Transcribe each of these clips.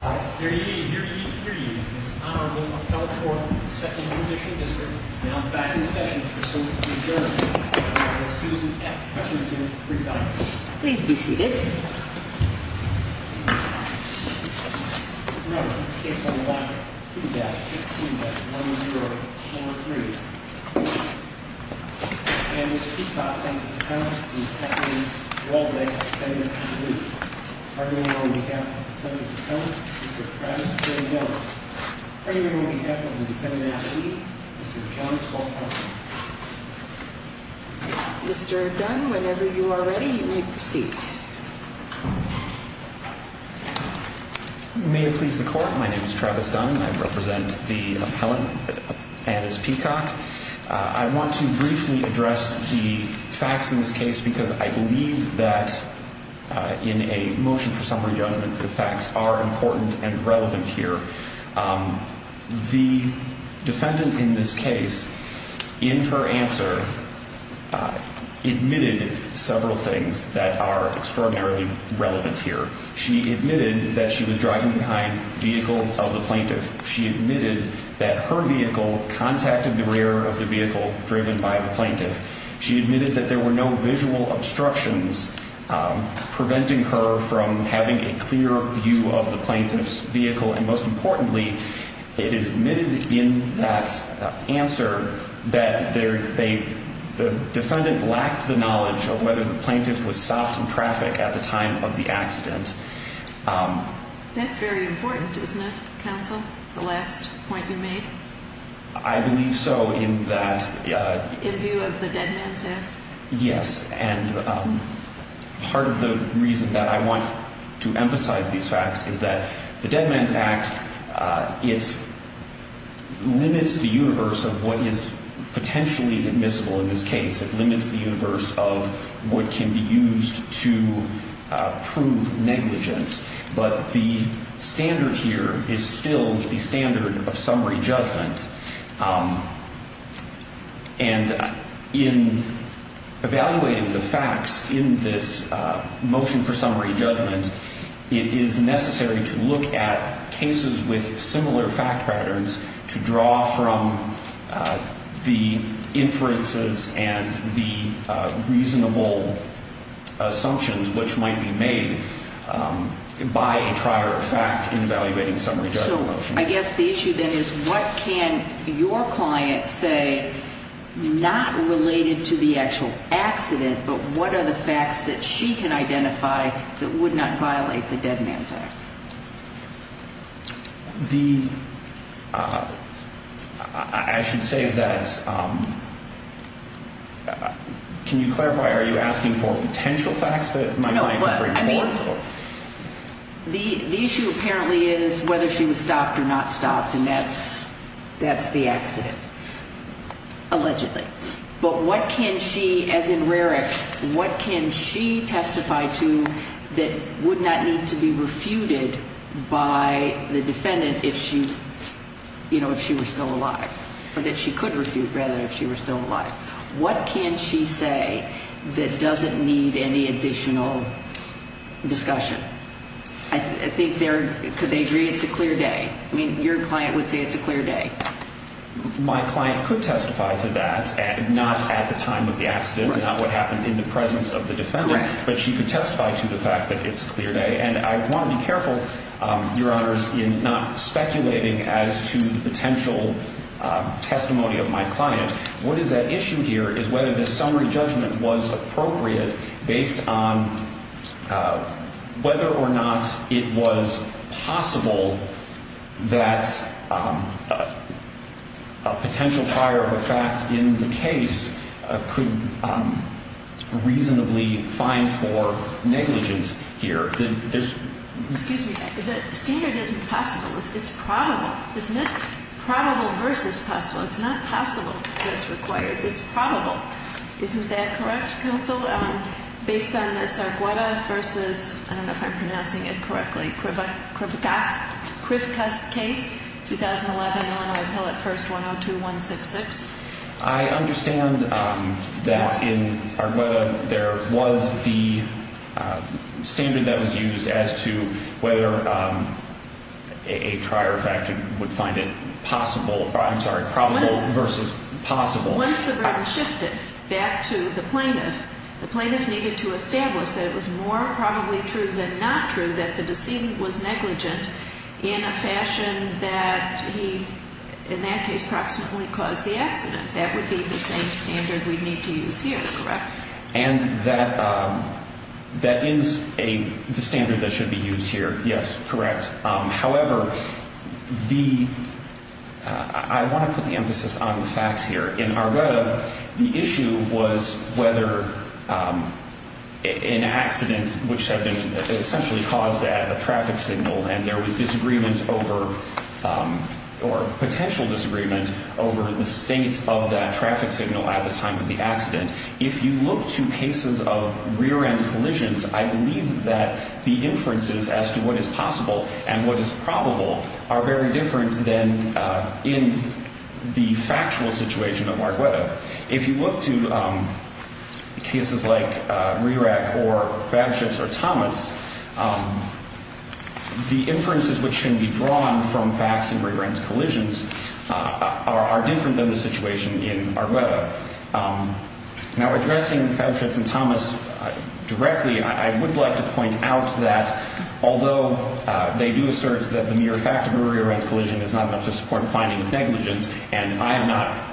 Your union, your union, your union, Ms. Honorable Michelle Thornton of the 2nd New Mission District is now back in session for some adjournment. Ms. Susan F. Hutchinson presents. Please be seated. Remember, this case on the left, 2-15-1043. And Ms. Peacock and the defendant, Ms. Kathleen Waldeck, arguing on behalf of the defendant's appellant, Mr. Travis Dunn. Arguing on behalf of the defendant's attorney, Mr. John Skolkowski. Mr. Dunn, whenever you are ready, you may proceed. May it please the court, my name is Travis Dunn, I represent the appellant and Ms. Peacock. I want to briefly address the facts in this case because I believe that in a motion for summary judgment, the facts are important and relevant here. The defendant in this case, in her answer, admitted several things that are extraordinarily relevant here. She admitted that she was driving behind the vehicle of the plaintiff. She admitted that her vehicle contacted the rear of the vehicle driven by the plaintiff. She admitted that there were no visual obstructions preventing her from having a clear view of the plaintiff's vehicle. And most importantly, it is admitted in that answer that the defendant lacked the knowledge of whether the plaintiff was stopped in traffic at the time of the accident. That's very important, isn't it, counsel, the last point you made? I believe so in that... In view of the Dead Man's Act? Yes, and part of the reason that I want to emphasize these facts is that the Dead Man's Act, it limits the universe of what is potentially admissible in this case. It limits the universe of what can be used to prove negligence. But the standard here is still the standard of summary judgment. And in evaluating the facts in this motion for summary judgment, it is necessary to look at cases with similar fact patterns to draw from the inferences and the reasonable assumptions which might be made by a trial or fact in evaluating summary judgment. So I guess the issue then is what can your client say not related to the actual accident, but what are the facts that she can identify that would not violate the Dead Man's Act? The... I should say that... Can you clarify, are you asking for potential facts that my client can bring forward? No, I mean, the issue apparently is whether she was stopped or not stopped, and that's the accident, allegedly. But what can she, as in Rarick, what can she testify to that would not need to be refuted by the defendant if she were still alive, or that she could refuse, rather, if she were still alive? What can she say that doesn't need any additional discussion? I think they're... Could they agree it's a clear day? I mean, your client would say it's a clear day. My client could testify to that, not at the time of the accident, not what happened in the presence of the defendant. Correct. But she could testify to the fact that it's a clear day. And I want to be careful, Your Honors, in not speculating as to the potential testimony of my client. What is at issue here is whether this summary judgment was appropriate based on whether or not it was possible that a potential prior of a fact in the case could reasonably find for negligence here. Excuse me. The standard isn't possible. It's probable. It's not probable versus possible. It's not possible that it's required. It's probable. Isn't that correct, Counsel? Based on this Argueta versus, I don't know if I'm pronouncing it correctly, Krivakas case, 2011, Illinois appellate first, 102-166? I understand that in Argueta there was the standard that was used as to whether a prior of fact would find it possible, I'm sorry, probable versus possible. Once the burden shifted back to the plaintiff, the plaintiff needed to establish that it was more probably true than not true that the decedent was negligent in a fashion that he, in that case, approximately caused the accident. That would be the same standard we'd need to use here, correct? And that is the standard that should be used here, yes, correct. However, I want to put the emphasis on the facts here. In Argueta, the issue was whether an accident, which had been essentially caused at a traffic signal and there was disagreement over or potential disagreement over the state of that traffic signal at the time of the accident. If you look to cases of rear-end collisions, I believe that the inferences as to what is possible and what is probable are very different than in the factual situation of Argueta. If you look to cases like Rerack or Fabchutz or Thomas, the inferences which can be drawn from facts in rear-end collisions are different than the situation in Argueta. Now, addressing Fabchutz and Thomas directly, I would like to point out that although they do assert that the mere fact of a rear-end collision is not enough to support a finding of negligence, and I am not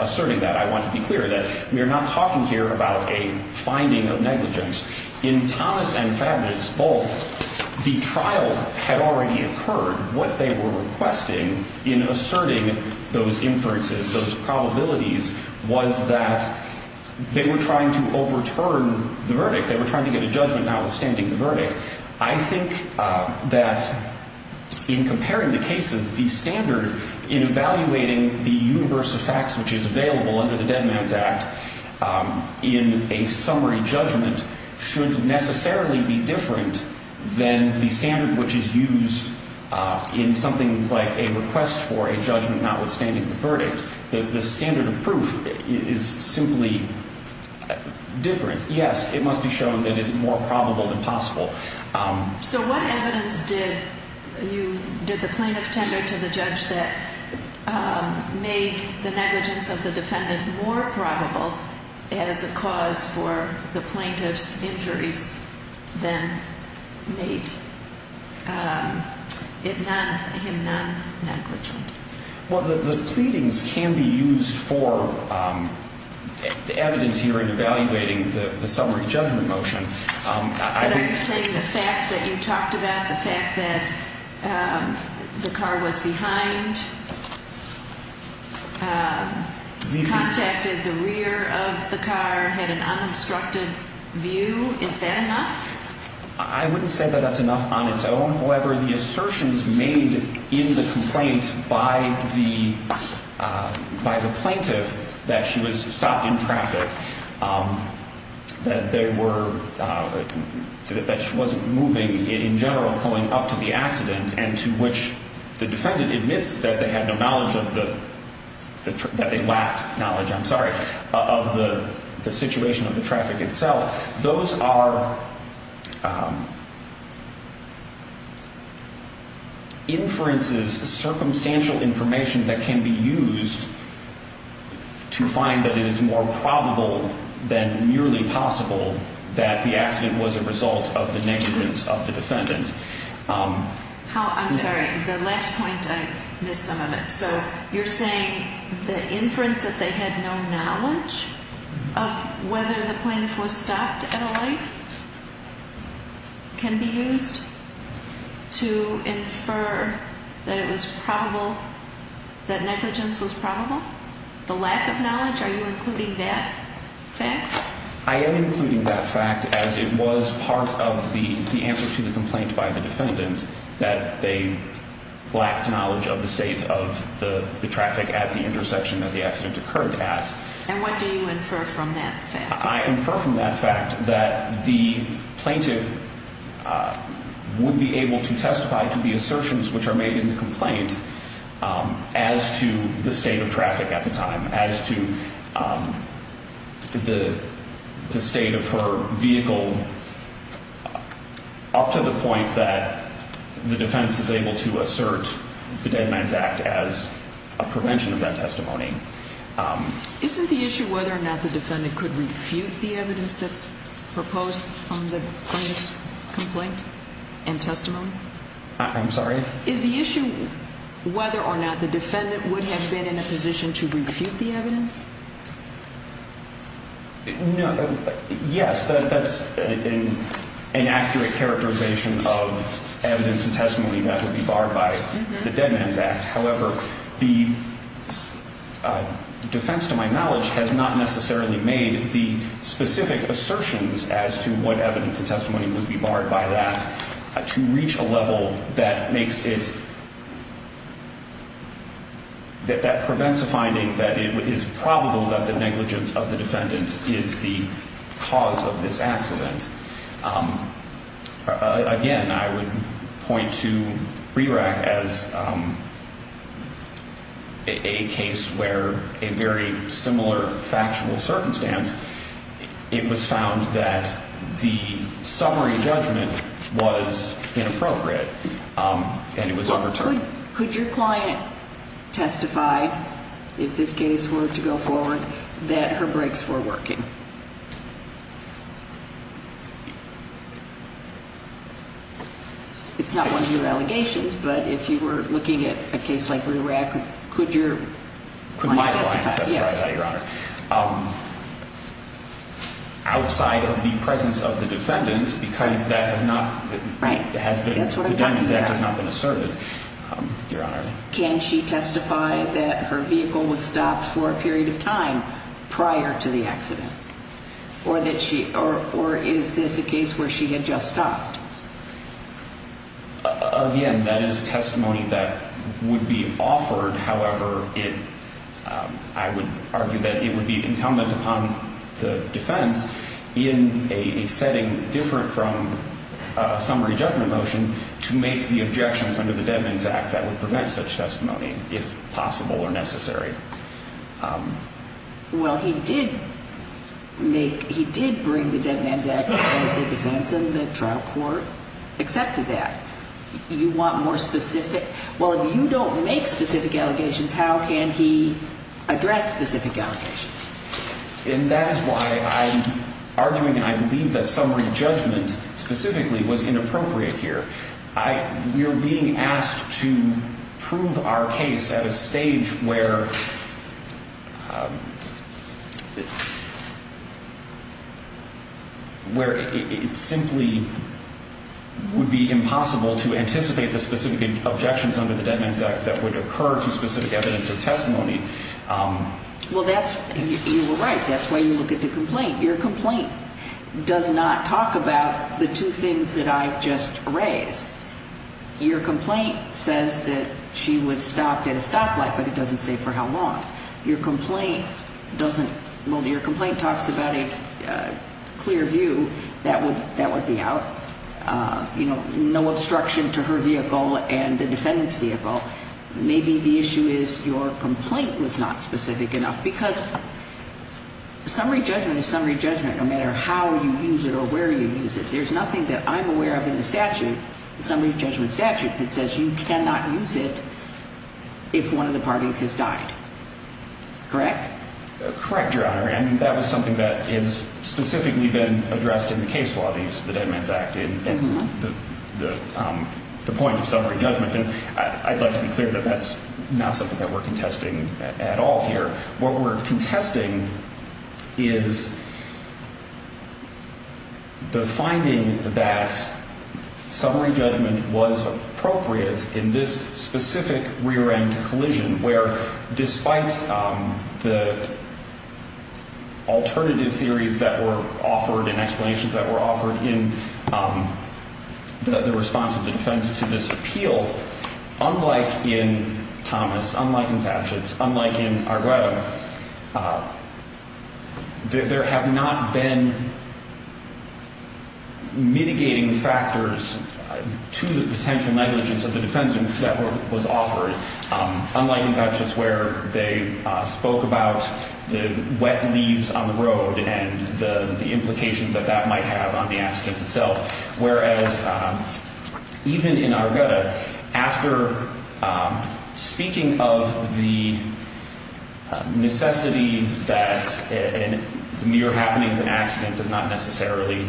asserting that. I want to be clear that we are not talking here about a finding of negligence. In Thomas and Fabchutz both, the trial had already occurred. What they were requesting in asserting those inferences, those probabilities, was that they were trying to overturn the verdict. They were trying to get a judgment notwithstanding the verdict. I think that in comparing the cases, the standard in evaluating the universe of facts which is available under the Dead Man's Act in a summary judgment should necessarily be different than the standard which is used in something like a request for a judgment notwithstanding the verdict. The standard of proof is simply different. Yes, it must be shown that it is more probable than possible. So what evidence did the plaintiff tender to the judge that made the negligence of the defendant more probable as a cause for the plaintiff's injuries than made him non-negligent? The pleadings can be used for evidence here in evaluating the summary judgment motion. Are you saying the facts that you talked about, the fact that the car was behind, contacted the rear of the car, had an unobstructed view, is that enough? I wouldn't say that that's enough on its own. However, the assertions made in the complaint by the plaintiff that she was stopped in traffic, that she wasn't moving in general going up to the accident and to which the defendant admits that they lacked knowledge of the situation of the traffic itself, those are inferences, circumstantial information that can be used to find that it is more probable than merely possible that the accident was a result of the negligence of the defendant. I'm sorry. The last point, I missed some of it. So you're saying the inference that they had no knowledge of whether the plaintiff was stopped at a light can be used to infer that negligence was probable? The lack of knowledge, are you including that fact? I am including that fact as it was part of the answer to the complaint by the defendant that they lacked knowledge of the state of the traffic at the intersection that the accident occurred at. And what do you infer from that fact? I infer from that fact that the plaintiff would be able to testify to the assertions which are made in the complaint as to the state of traffic at the time, as to the state of her vehicle up to the point that the defendant is able to assert the Deadlines Act as a prevention of that testimony. Isn't the issue whether or not the defendant could refute the evidence that's proposed on the plaintiff's complaint and testimony? I'm sorry? Is the issue whether or not the defendant would have been in a position to refute the evidence? Yes, that's an accurate characterization of evidence and testimony that would be barred by the Deadlines Act. However, the defense to my knowledge has not necessarily made the specific assertions as to what evidence and testimony would be barred by that to reach a level that makes it, that prevents a finding that it is probable that the negligence of the defendant is the cause of this accident. Again, I would point to RERAC as a case where a very similar factual circumstance, it was found that the summary judgment was inappropriate and it was overturned. Could your client testify, if this case were to go forward, that her brakes were working? It's not one of your allegations, but if you were looking at a case like RERAC, could your client testify? Outside of the presence of the defendant, because that has not been asserted. Can she testify that her vehicle was stopped for a period of time prior to the accident? Or is this a case where she had just stopped? Again, that is testimony that would be offered. However, I would argue that it would be incumbent upon the defense in a setting different from summary judgment motion to make the objections under the Deadlines Act that would prevent such testimony, if possible or necessary. Well, he did bring the Deadlines Act as a defense, and the trial court accepted that. You want more specific? Well, if you don't make specific allegations, how can he address specific allegations? And that is why I'm arguing, and I believe that summary judgment specifically was inappropriate here. You're being asked to prove our case at a stage where it simply would be impossible to anticipate the specific objections under the Deadlines Act that would occur to specific evidence or testimony. Well, you were right. That's why you look at the complaint. Your complaint does not talk about the two things that I've just raised. Your complaint says that she was stopped at a stoplight, but it doesn't say for how long. Your complaint doesn't – well, your complaint talks about a clear view that would be out. You know, no obstruction to her vehicle and the defendant's vehicle. Maybe the issue is your complaint was not specific enough because summary judgment is summary judgment no matter how you use it or where you use it. There's nothing that I'm aware of in the statute, the summary judgment statute, that says you cannot use it if one of the parties has died. Correct? Correct, Your Honor, and that was something that has specifically been addressed in the case law, the Deadlines Act, and the point of summary judgment. I'd like to be clear that that's not something that we're contesting at all here. What we're contesting is the finding that summary judgment was appropriate in this specific rear-end collision where despite the alternative theories that were offered and explanations that were offered in the response of the defense to this appeal, unlike in Thomas, unlike in Fatshitz, unlike in Argueta, there have not been mitigating factors to the potential negligence of the defendant that was offered, unlike in Fatshitz where they spoke about the wet leaves on the road and the implications that that might have on the accident itself, whereas even in Argueta, after speaking of the necessity that a near-happening accident does not necessarily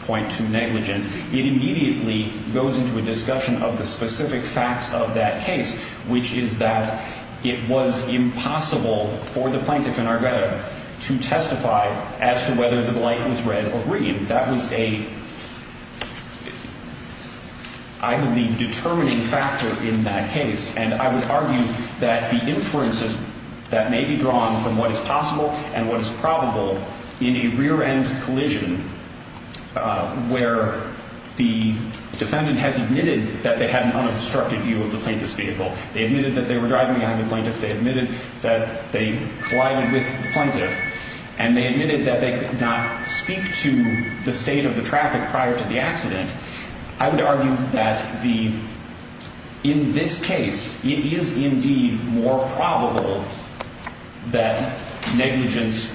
point to negligence, it immediately goes into a discussion of the specific facts of that case, which is that it was impossible for the plaintiff in Argueta to testify as to whether the light was red or green. That was a, I believe, determining factor in that case, and I would argue that the inferences that may be drawn from what is possible and what is probable in a rear-end collision where the defendant has admitted that they had an unobstructed view of the plaintiff's vehicle, they admitted that they were driving behind the plaintiff, they admitted that they collided with the plaintiff, and they admitted that they could not speak to the state of the traffic prior to the accident, I would argue that the, in this case, it is indeed more probable that negligence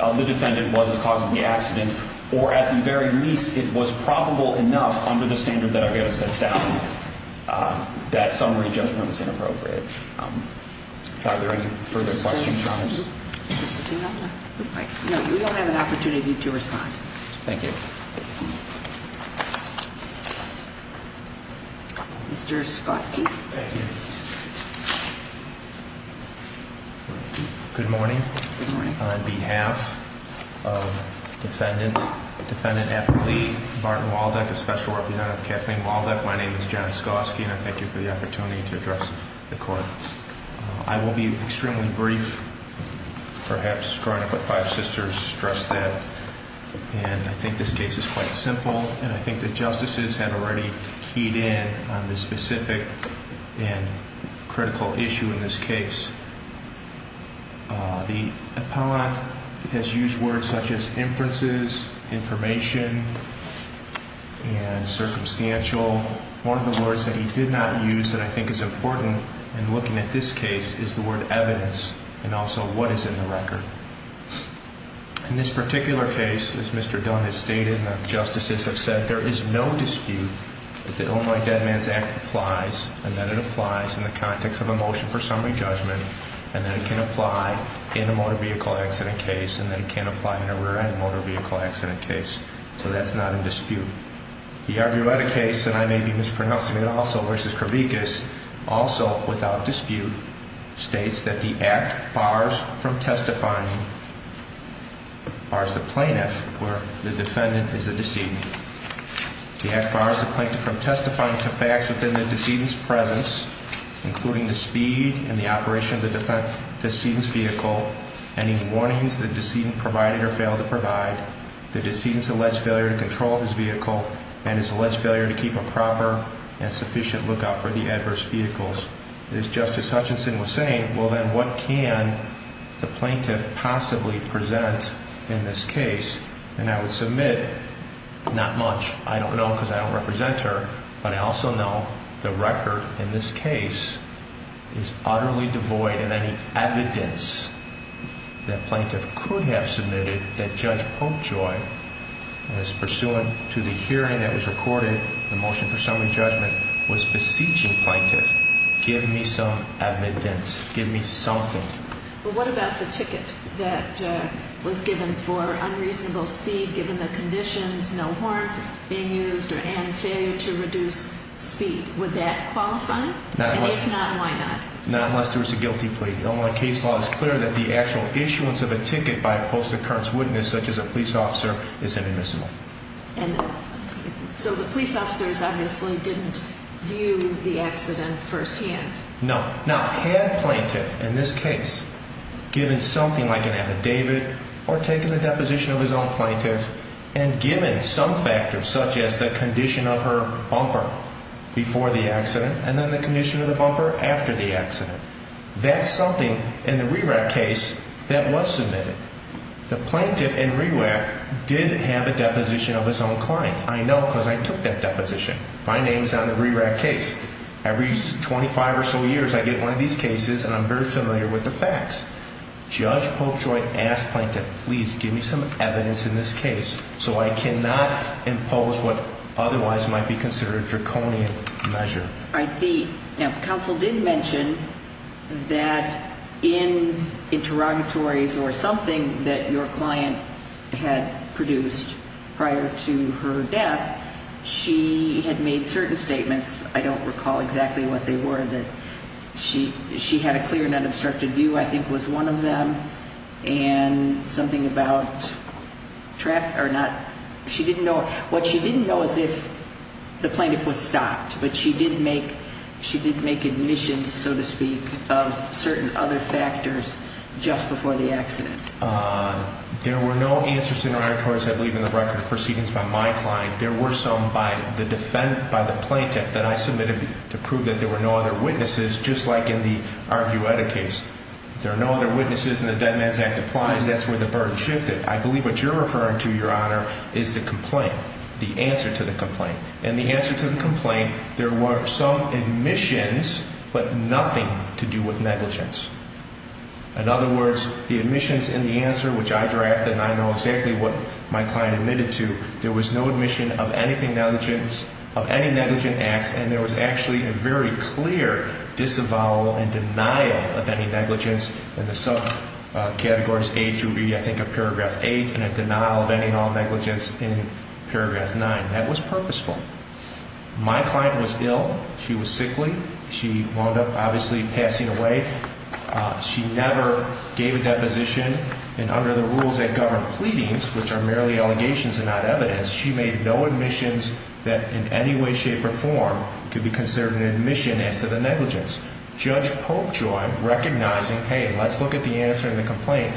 of the defendant was the cause of the accident, or at the very least, it was probable enough under the standard that Argueta sets down that summary judgment is inappropriate. Are there any further questions, Your Honor? No, you don't have an opportunity to respond. Thank you. Mr. Skosky. Thank you. Good morning. Good morning. On behalf of Defendant Epperly Martin Walduck, a special representative of Kathleen Walduck, my name is John Skosky, and I thank you for the opportunity to address the court. I will be extremely brief, perhaps growing up with five sisters, stress that, and I think this case is quite simple, and I think the justices have already keyed in on the specific and critical issue in this case. The appellant has used words such as inferences, information, and circumstantial. One of the words that he did not use that I think is important in looking at this case is the word evidence and also what is in the record. In this particular case, as Mr. Dunn has stated and the justices have said, that there is no dispute that the Oh My Dead Man's Act applies, and that it applies in the context of a motion for summary judgment, and that it can apply in a motor vehicle accident case, and that it can't apply in a rear-end motor vehicle accident case. So that's not in dispute. The arguetta case, and I may be mispronouncing it also, versus Kravikas, also without dispute, states that the act bars from testifying, bars the plaintiff, where the defendant is the decedent. The act bars the plaintiff from testifying to facts within the decedent's presence, including the speed and the operation of the decedent's vehicle, any warnings the decedent provided or failed to provide. The decedent's alleged failure to control his vehicle and his alleged failure to keep a proper and sufficient lookout for the adverse vehicles. As Justice Hutchinson was saying, well then what can the plaintiff possibly present in this case? And I would submit not much. I don't know because I don't represent her, but I also know the record in this case is utterly devoid of any evidence that plaintiff could have submitted that Judge Popejoy, as pursuant to the hearing that was recorded, the motion for summary judgment, was beseeching plaintiff, give me some evidence, give me something. But what about the ticket that was given for unreasonable speed, given the conditions, no horn being used, and failure to reduce speed? Would that qualify? And if not, why not? Not unless there was a guilty plea. The case law is clear that the actual issuance of a ticket by a post-occurrence witness, such as a police officer, is inadmissible. So the police officers obviously didn't view the accident firsthand? No. Now, had plaintiff in this case given something like an affidavit or taken the deposition of his own plaintiff and given some factors such as the condition of her bumper before the accident and then the condition of the bumper after the accident, that's something in the RERAC case that was submitted. The plaintiff in RERAC did have a deposition of his own client. I know because I took that deposition. My name is on the RERAC case. Every 25 or so years I get one of these cases and I'm very familiar with the facts. Judge Polkjoy asked plaintiff, please give me some evidence in this case so I cannot impose what otherwise might be considered a draconian measure. Now, counsel did mention that in interrogatories or something that your client had produced prior to her death, she had made certain statements, I don't recall exactly what they were, that she had a clear and unobstructed view, I think was one of them, and something about traffic or not. She didn't know. What she didn't know is if the plaintiff was stopped, but she did make admissions, so to speak, of certain other factors just before the accident. There were no answers to interrogatories, I believe, in the record of proceedings by my client. There were some by the defendant, by the plaintiff, that I submitted to prove that there were no other witnesses, just like in the Arguetta case. There are no other witnesses, and the Dead Man's Act applies. That's where the burden shifted. I believe what you're referring to, Your Honor, is the complaint, the answer to the complaint. In the answer to the complaint, there were some admissions, but nothing to do with negligence. In other words, the admissions in the answer, which I drafted, and I know exactly what my client admitted to, there was no admission of anything negligent, of any negligent acts, and there was actually a very clear disavowal and denial of any negligence in the subcategories A through B, I think of Paragraph 8, and a denial of any and all negligence in Paragraph 9. That was purposeful. My client was ill. She was sickly. She wound up, obviously, passing away. She never gave a deposition, and under the rules that govern pleadings, which are merely allegations and not evidence, she made no admissions that in any way, shape, or form could be considered an admission as to the negligence. Judge Popejoy, recognizing, hey, let's look at the answer to the complaint,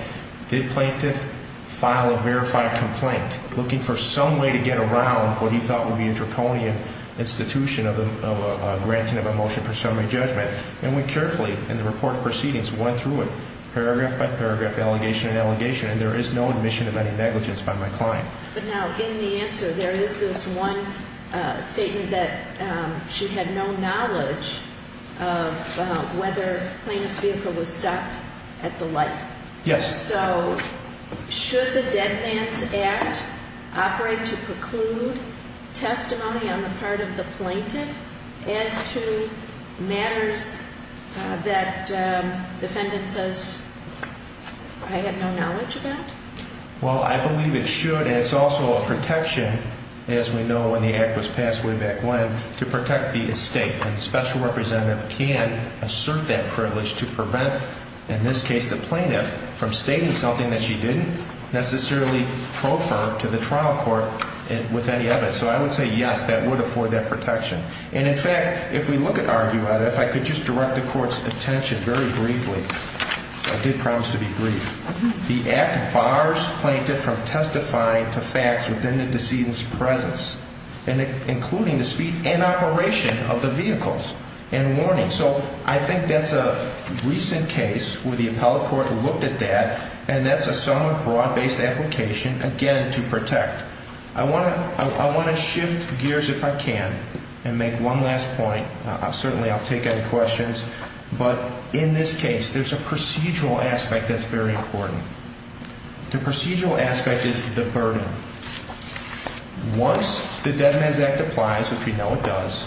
did plaintiff file a verified complaint, looking for some way to get around what he thought would be a draconian institution of a granting of a motion for summary judgment, and went carefully in the report of proceedings, went through it paragraph by paragraph, allegation and allegation, and there is no admission of any negligence by my client. But now, in the answer, there is this one statement that she had no knowledge of whether the plaintiff's vehicle was stopped at the light. Yes. So should the Dead Man's Act operate to preclude testimony on the part of the plaintiff as to matters that the defendant says, I have no knowledge about? Well, I believe it should. It's also a protection, as we know, when the act was passed way back when, to protect the estate. And the special representative can assert that privilege to prevent, in this case, the plaintiff from stating something that she didn't necessarily proffer to the trial court with any evidence. So I would say, yes, that would afford that protection. And, in fact, if we look at our view of it, if I could just direct the Court's attention very briefly, I did promise to be brief. The act bars plaintiff from testifying to facts within the decedent's presence, including the speed and operation of the vehicles and warning. So I think that's a recent case where the appellate court looked at that, and that's a somewhat broad-based application, again, to protect. I want to shift gears if I can and make one last point. Certainly I'll take any questions. But in this case, there's a procedural aspect that's very important. The procedural aspect is the burden. Once the Dead Man's Act applies, which we know it does,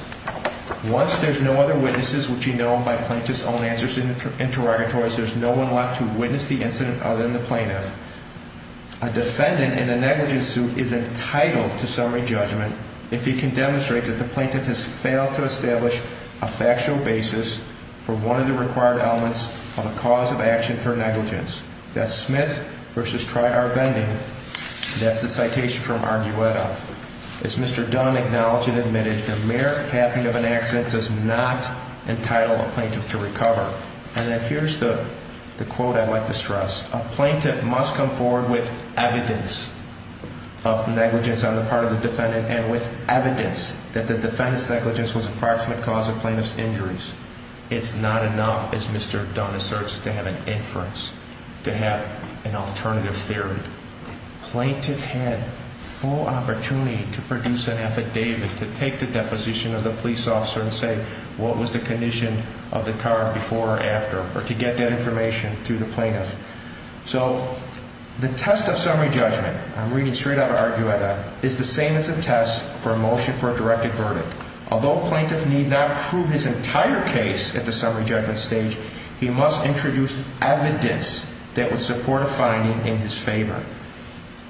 once there's no other witnesses, which you know by plaintiff's own answers and interrogatories, there's no one left to witness the incident other than the plaintiff, a defendant in a negligence suit is entitled to summary judgment if he can demonstrate that the plaintiff has failed to establish a factual basis for one of the required elements of a cause of action for negligence. That's Smith v. Triar-Vending. That's the citation from Argueta. As Mr. Dunn acknowledged and admitted, the mere happening of an accident does not entitle a plaintiff to recover. And here's the quote I'd like to stress. A plaintiff must come forward with evidence of negligence on the part of the defendant and with evidence that the defendant's negligence was an approximate cause of plaintiff's injuries. It's not enough, as Mr. Dunn asserts, to have an inference, to have an alternative theory. Plaintiff had full opportunity to produce an affidavit to take the deposition of the police officer and say what was the condition of the car before or after, or to get that information through the plaintiff. So the test of summary judgment, I'm reading straight out of Argueta, is the same as the test for a motion for a directed verdict. Although plaintiff need not prove his entire case at the summary judgment stage, he must introduce evidence that would support a finding in his favor.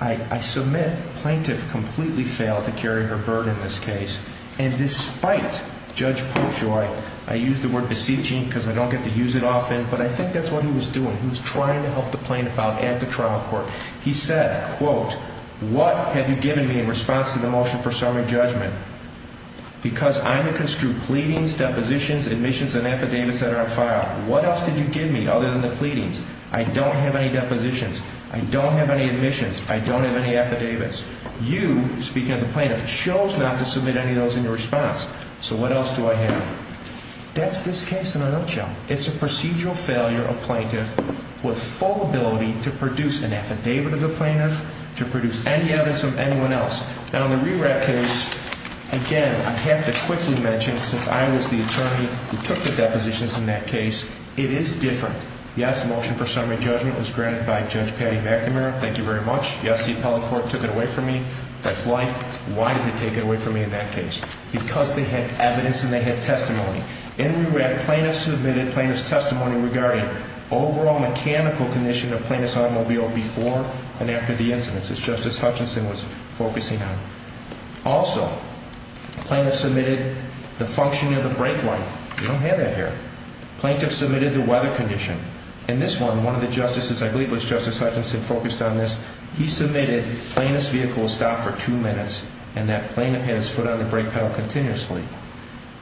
I submit plaintiff completely failed to carry her burden in this case. And despite Judge Popejoy, I use the word beseeching because I don't get to use it often, but I think that's what he was doing. He was trying to help the plaintiff out at the trial court. He said, quote, what have you given me in response to the motion for summary judgment? Because I'm going to construe pleadings, depositions, admissions, and affidavits that are on file. What else did you give me other than the pleadings? I don't have any depositions. I don't have any admissions. I don't have any affidavits. You, speaking as a plaintiff, chose not to submit any of those in your response. So what else do I have? That's this case in a nutshell. It's a procedural failure of plaintiff with full ability to produce an affidavit of the plaintiff, to produce any evidence of anyone else. Now, in the RERAC case, again, I have to quickly mention, since I was the attorney who took the depositions in that case, it is different. Yes, the motion for summary judgment was granted by Judge Patty McNamara. Thank you very much. Yes, the appellate court took it away from me. That's life. Why did they take it away from me in that case? Because they had evidence and they had testimony. In RERAC, plaintiffs submitted plaintiff's testimony regarding overall mechanical condition of plaintiff's automobile before and after the incidents, as Justice Hutchinson was focusing on. Also, plaintiff submitted the functioning of the brake light. We don't have that here. Plaintiff submitted the weather condition. In this one, one of the justices, I believe it was Justice Hutchinson, focused on this. He submitted plaintiff's vehicle stopped for two minutes, and that plaintiff had his foot on the brake pedal continuously.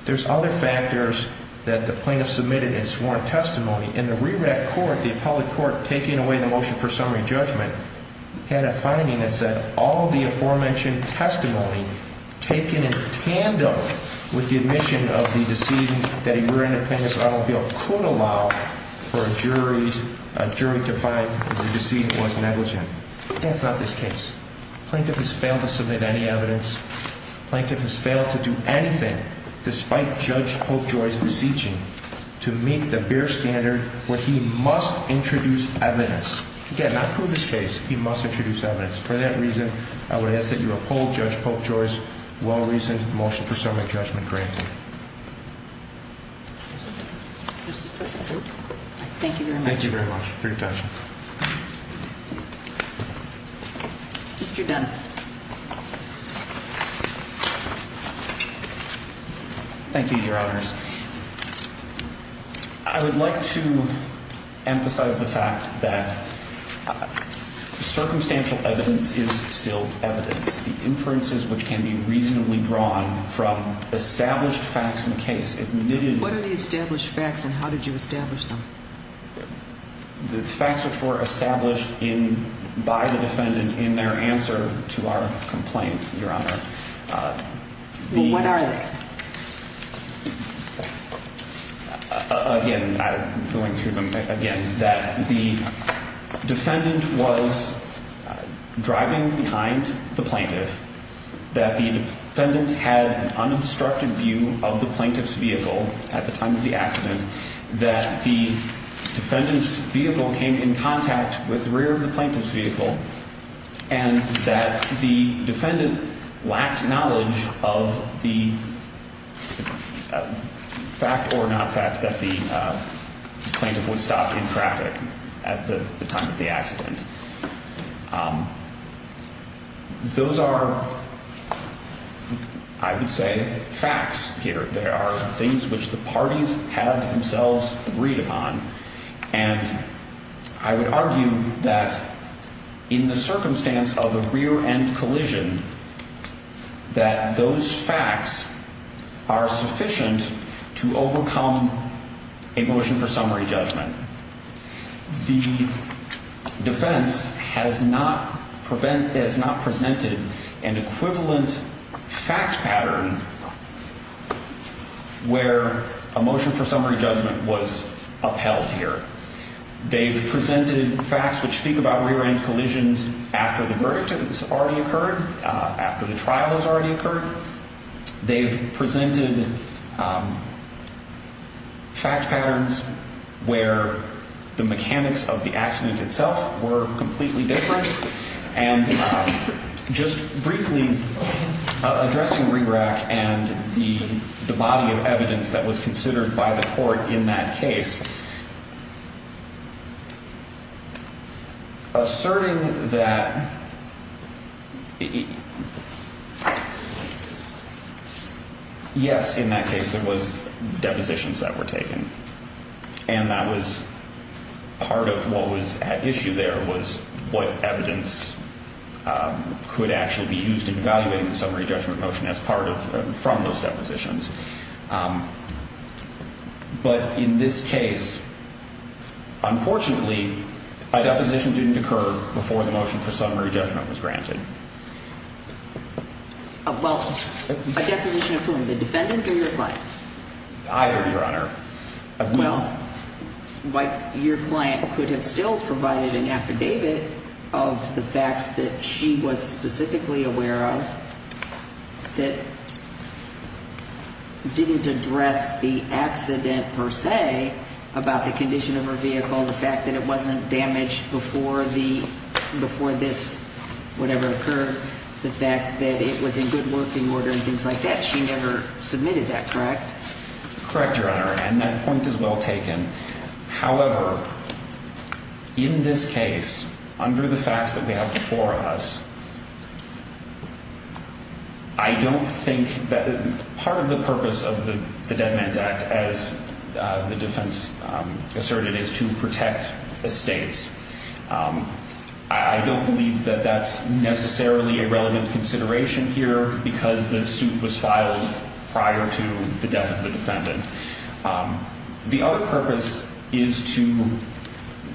There's other factors that the plaintiff submitted in sworn testimony. In the RERAC court, the appellate court, taking away the motion for summary judgment, had a finding that said all of the aforementioned testimony taken in tandem with the admission of the decedent that a rear-end appendix automobile could allow for a jury to find that the decedent was negligent. That's not this case. Plaintiff has failed to submit any evidence. Plaintiff has failed to do anything, despite Judge Popejoy's beseeching, to meet the bare standard where he must introduce evidence. Again, not prove this case. He must introduce evidence. For that reason, I would ask that you uphold Judge Popejoy's well-reasoned motion for summary judgment granted. Thank you very much. Thank you very much for your attention. Mr. Dunn. Thank you, Your Honors. I would like to emphasize the fact that circumstantial evidence is still evidence. The inferences which can be reasonably drawn from established facts in the case admittedly What are the established facts and how did you establish them? The facts which were established by the defendant in their answer to our complaint, Your Honor. What are they? Again, I'm going through them again. That the defendant was driving behind the plaintiff. That the defendant had an unobstructed view of the plaintiff's vehicle at the time of the accident. That the defendant's vehicle came in contact with the rear of the plaintiff's vehicle. And that the defendant lacked knowledge of the fact or not fact that the plaintiff was stopped in traffic at the time of the accident. Those are, I would say, facts here. They are things which the parties have themselves agreed upon. And I would argue that in the circumstance of a rear-end collision, that those facts are sufficient to overcome a motion for summary judgment. The defense has not presented an equivalent fact pattern where a motion for summary judgment was upheld here. They've presented facts which speak about rear-end collisions after the verdict has already occurred, after the trial has already occurred. They've presented fact patterns where the mechanics of the accident itself were completely different. And just briefly addressing RERAC and the body of evidence that was considered by the court in that case. Asserting that, yes, in that case it was depositions that were taken. And that was part of what was at issue there was what evidence could actually be used in evaluating the summary judgment motion as part of, from those depositions. But in this case, unfortunately, a deposition didn't occur before the motion for summary judgment was granted. Well, a deposition of whom? The defendant or your client? Either, Your Honor. Well, your client could have still provided an affidavit of the facts that she was specifically aware of that didn't address the accident per se about the condition of her vehicle, the fact that it wasn't damaged before this whatever occurred, the fact that it was in good working order and things like that. She never submitted that, correct? Correct, Your Honor, and that point is well taken. However, in this case, under the facts that we have before us, I don't think that part of the purpose of the Dead Man's Act, as the defense asserted, is to protect estates. I don't believe that that's necessarily a relevant consideration here because the suit was filed prior to the death of the defendant. The other purpose is to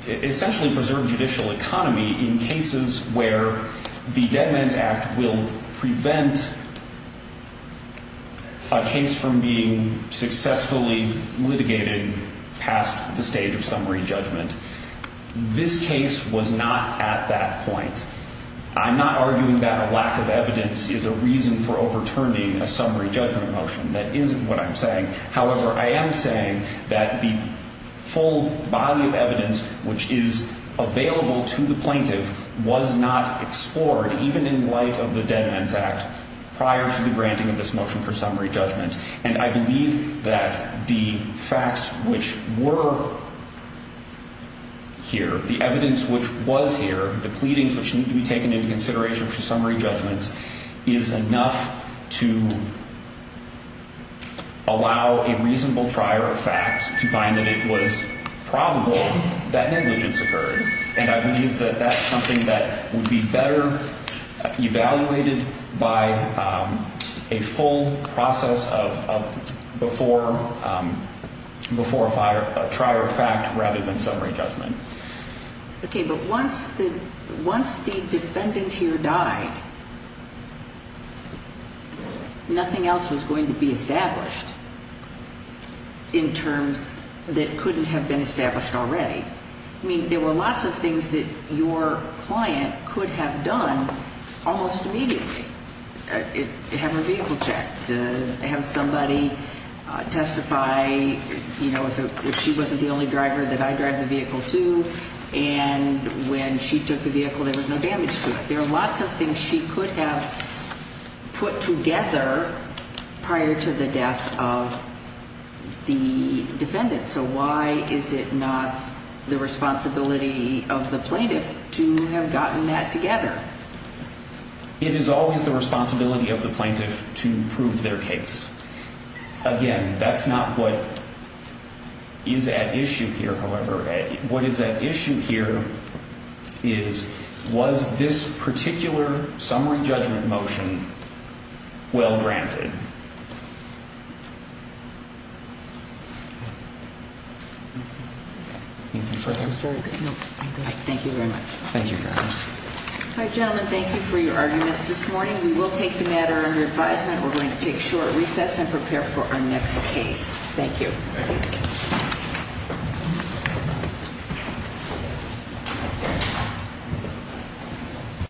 essentially preserve judicial economy in cases where the Dead Man's Act will prevent a case from being successfully litigated past the stage of summary judgment. This case was not at that point. I'm not arguing that a lack of evidence is a reason for overturning a summary judgment motion. That isn't what I'm saying. However, I am saying that the full body of evidence which is available to the plaintiff was not explored, even in light of the Dead Man's Act, prior to the granting of this motion for summary judgment. And I believe that the facts which were here, the evidence which was here, the pleadings which need to be taken into consideration for summary judgments, is enough to allow a reasonable trier of facts to find that it was probable that negligence occurred. And I believe that that's something that would be better evaluated by a full process of before a trier of fact rather than summary judgment. Okay, but once the defendant here died, nothing else was going to be established in terms that couldn't have been established already. I mean, there were lots of things that your client could have done almost immediately. Have her vehicle checked, have somebody testify, you know, if she wasn't the only driver that I drive the vehicle to. And when she took the vehicle, there was no damage to it. There are lots of things she could have put together prior to the death of the defendant. So why is it not the responsibility of the plaintiff to have gotten that together? It is always the responsibility of the plaintiff to prove their case. Again, that's not what is at issue here, however. What is at issue here is, was this particular summary judgment motion well granted? Anything further? Thank you very much. Thank you, Your Honor. All right, gentlemen, thank you for your arguments this morning. We will take the matter under advisement. We're going to take short recess and prepare for our next case. Thank you.